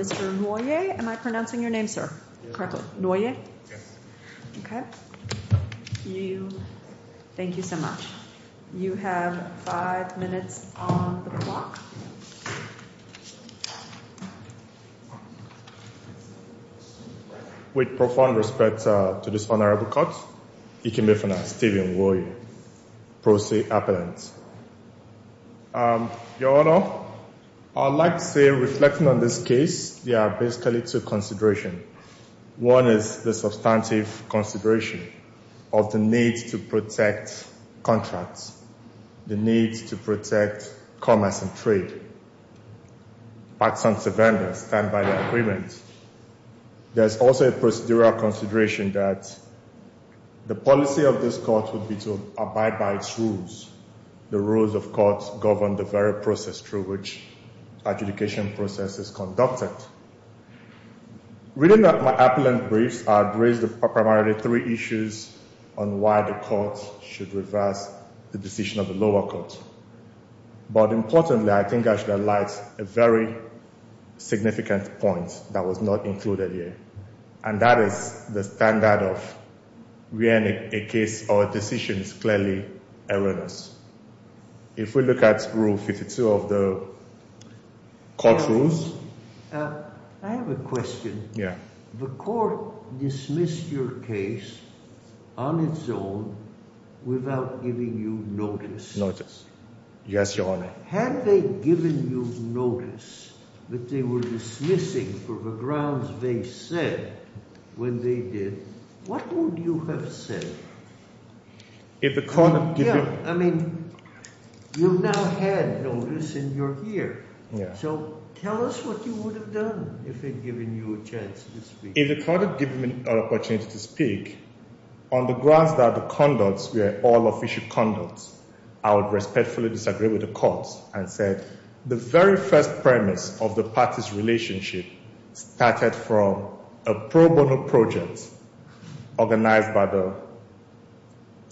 Mr. Nwoye v. President of the United States I would like to say, reflecting on this case, there are basically two considerations. One is the substantive consideration of the need to protect contracts, the need to protect commerce and trade. There is also a procedural consideration that the policy of this court would be to abide by its rules. The rules of court govern the very process through which adjudication process is conducted. Reading my appellant briefs, I have raised primarily three issues on why the court should reverse the decision of the lower court. But importantly, I think I should highlight a very significant point that was not included here, and that is the standard of when a decision is clearly erroneous. If we look at Rule 52 of the court's rules, the court dismissed your case on its own without giving you notice. Had they given you notice that they were dismissing for the grounds they said when they did, what would you have said? You've now had notice and you're here. So tell us what you would have done if they'd given you a chance to speak.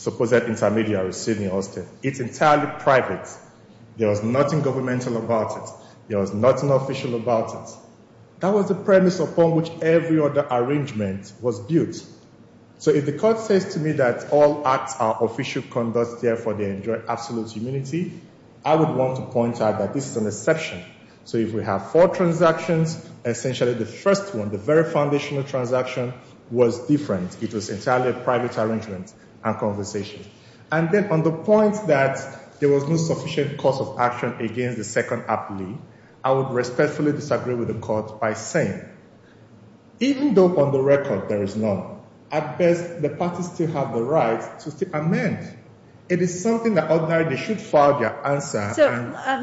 Suppose that intermediary is Sydney Austin. It's entirely private. There was nothing governmental about it. There was nothing official about it. That was the premise upon which every other arrangement was built. So if the court says to me that all acts are official conduct, therefore they enjoy absolute immunity, I would want to point out that this is an exception. So if we have four transactions, essentially the first one, the very foundational transaction, was different. It was entirely a private arrangement and conversation. And then on the point that there was no sufficient course of action against the second appellee, I would respectfully disagree with the court by saying, even though on the record there is none, at best the parties still have the right to still amend. It is something that they should file their answer.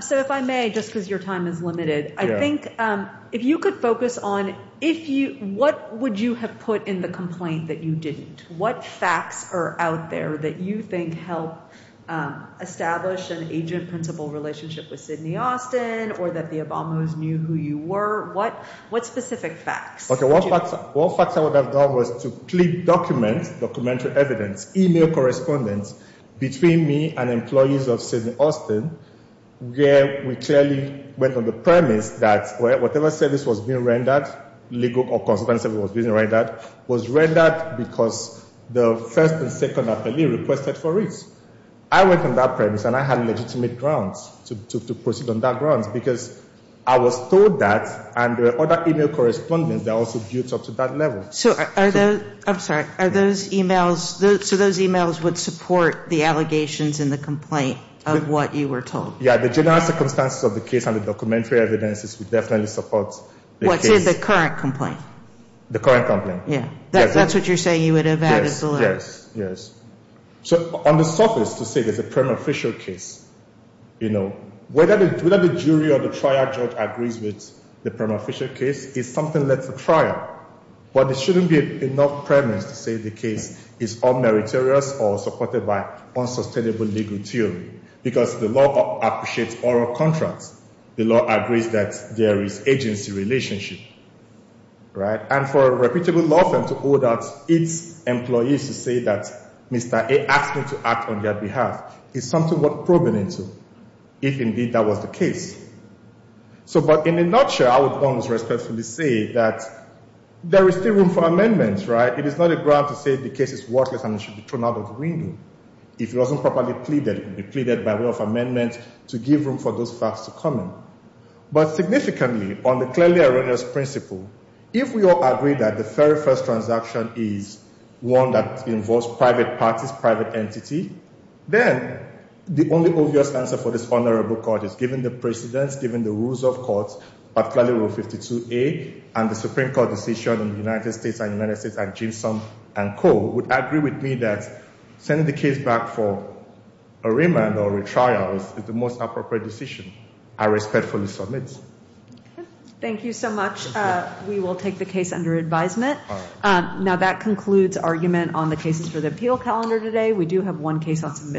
So if I may, just because your time is limited, I think if you could focus on what would you have put in the complaint that you didn't? What facts are out there that you think help establish an agent-principal relationship with Sydney Austin or that the Obamos knew who you were? What specific facts? Okay, one fact I would have done was to click document, documentary evidence, email correspondence, between me and employees of Sydney Austin, where we clearly went on the premise that whatever said this was being rendered, legal or consequential was being rendered, was rendered because the first and second appellee requested for it. I went on that premise and I had legitimate grounds to proceed on that grounds because I was told that, and there were other email correspondence that also built up to that level. So are those, I'm sorry, are those emails, so those emails would support the allegations in the complaint of what you were told? Yeah, the general circumstances of the case and the documentary evidence would definitely support the case. What, say the current complaint? The current complaint, yes. That's what you're saying you would have added below? Yes, yes. So on the surface, to say there's a prima facie case, you know, whether the jury or the trial judge agrees with the prima facie case is something left for trial. But there shouldn't be enough premise to say the case is unmeritorious or supported by unsustainable legal theory because the law appreciates oral contracts. The law agrees that there is agency relationship, right? And for a reputable law firm to hold out its employees to say that Mr. A asked me to act on their behalf is something worth probing into if indeed that was the case. So, but in a nutshell, I would almost respectfully say that there is still room for amendments, right? It is not a ground to say the case is worthless and it should be thrown out of the window. If it wasn't properly pleaded, it would be pleaded by way of amendments to give room for those facts to come in. But significantly, on the clearly erroneous principle, if we all agree that the very first transaction is one that involves private parties, private entity, then the only obvious answer for this vulnerable court is given the precedence, given the rules of court, particularly Rule 52A, and the Supreme Court decision in the United States and United States and Jameson and Co. would agree with me that sending the case back for arraignment or retrial is the most appropriate decision. I respectfully submit. Thank you so much. We will take the case under advisement. Now that concludes argument on the cases for the appeal calendar today. We do have one case on submission.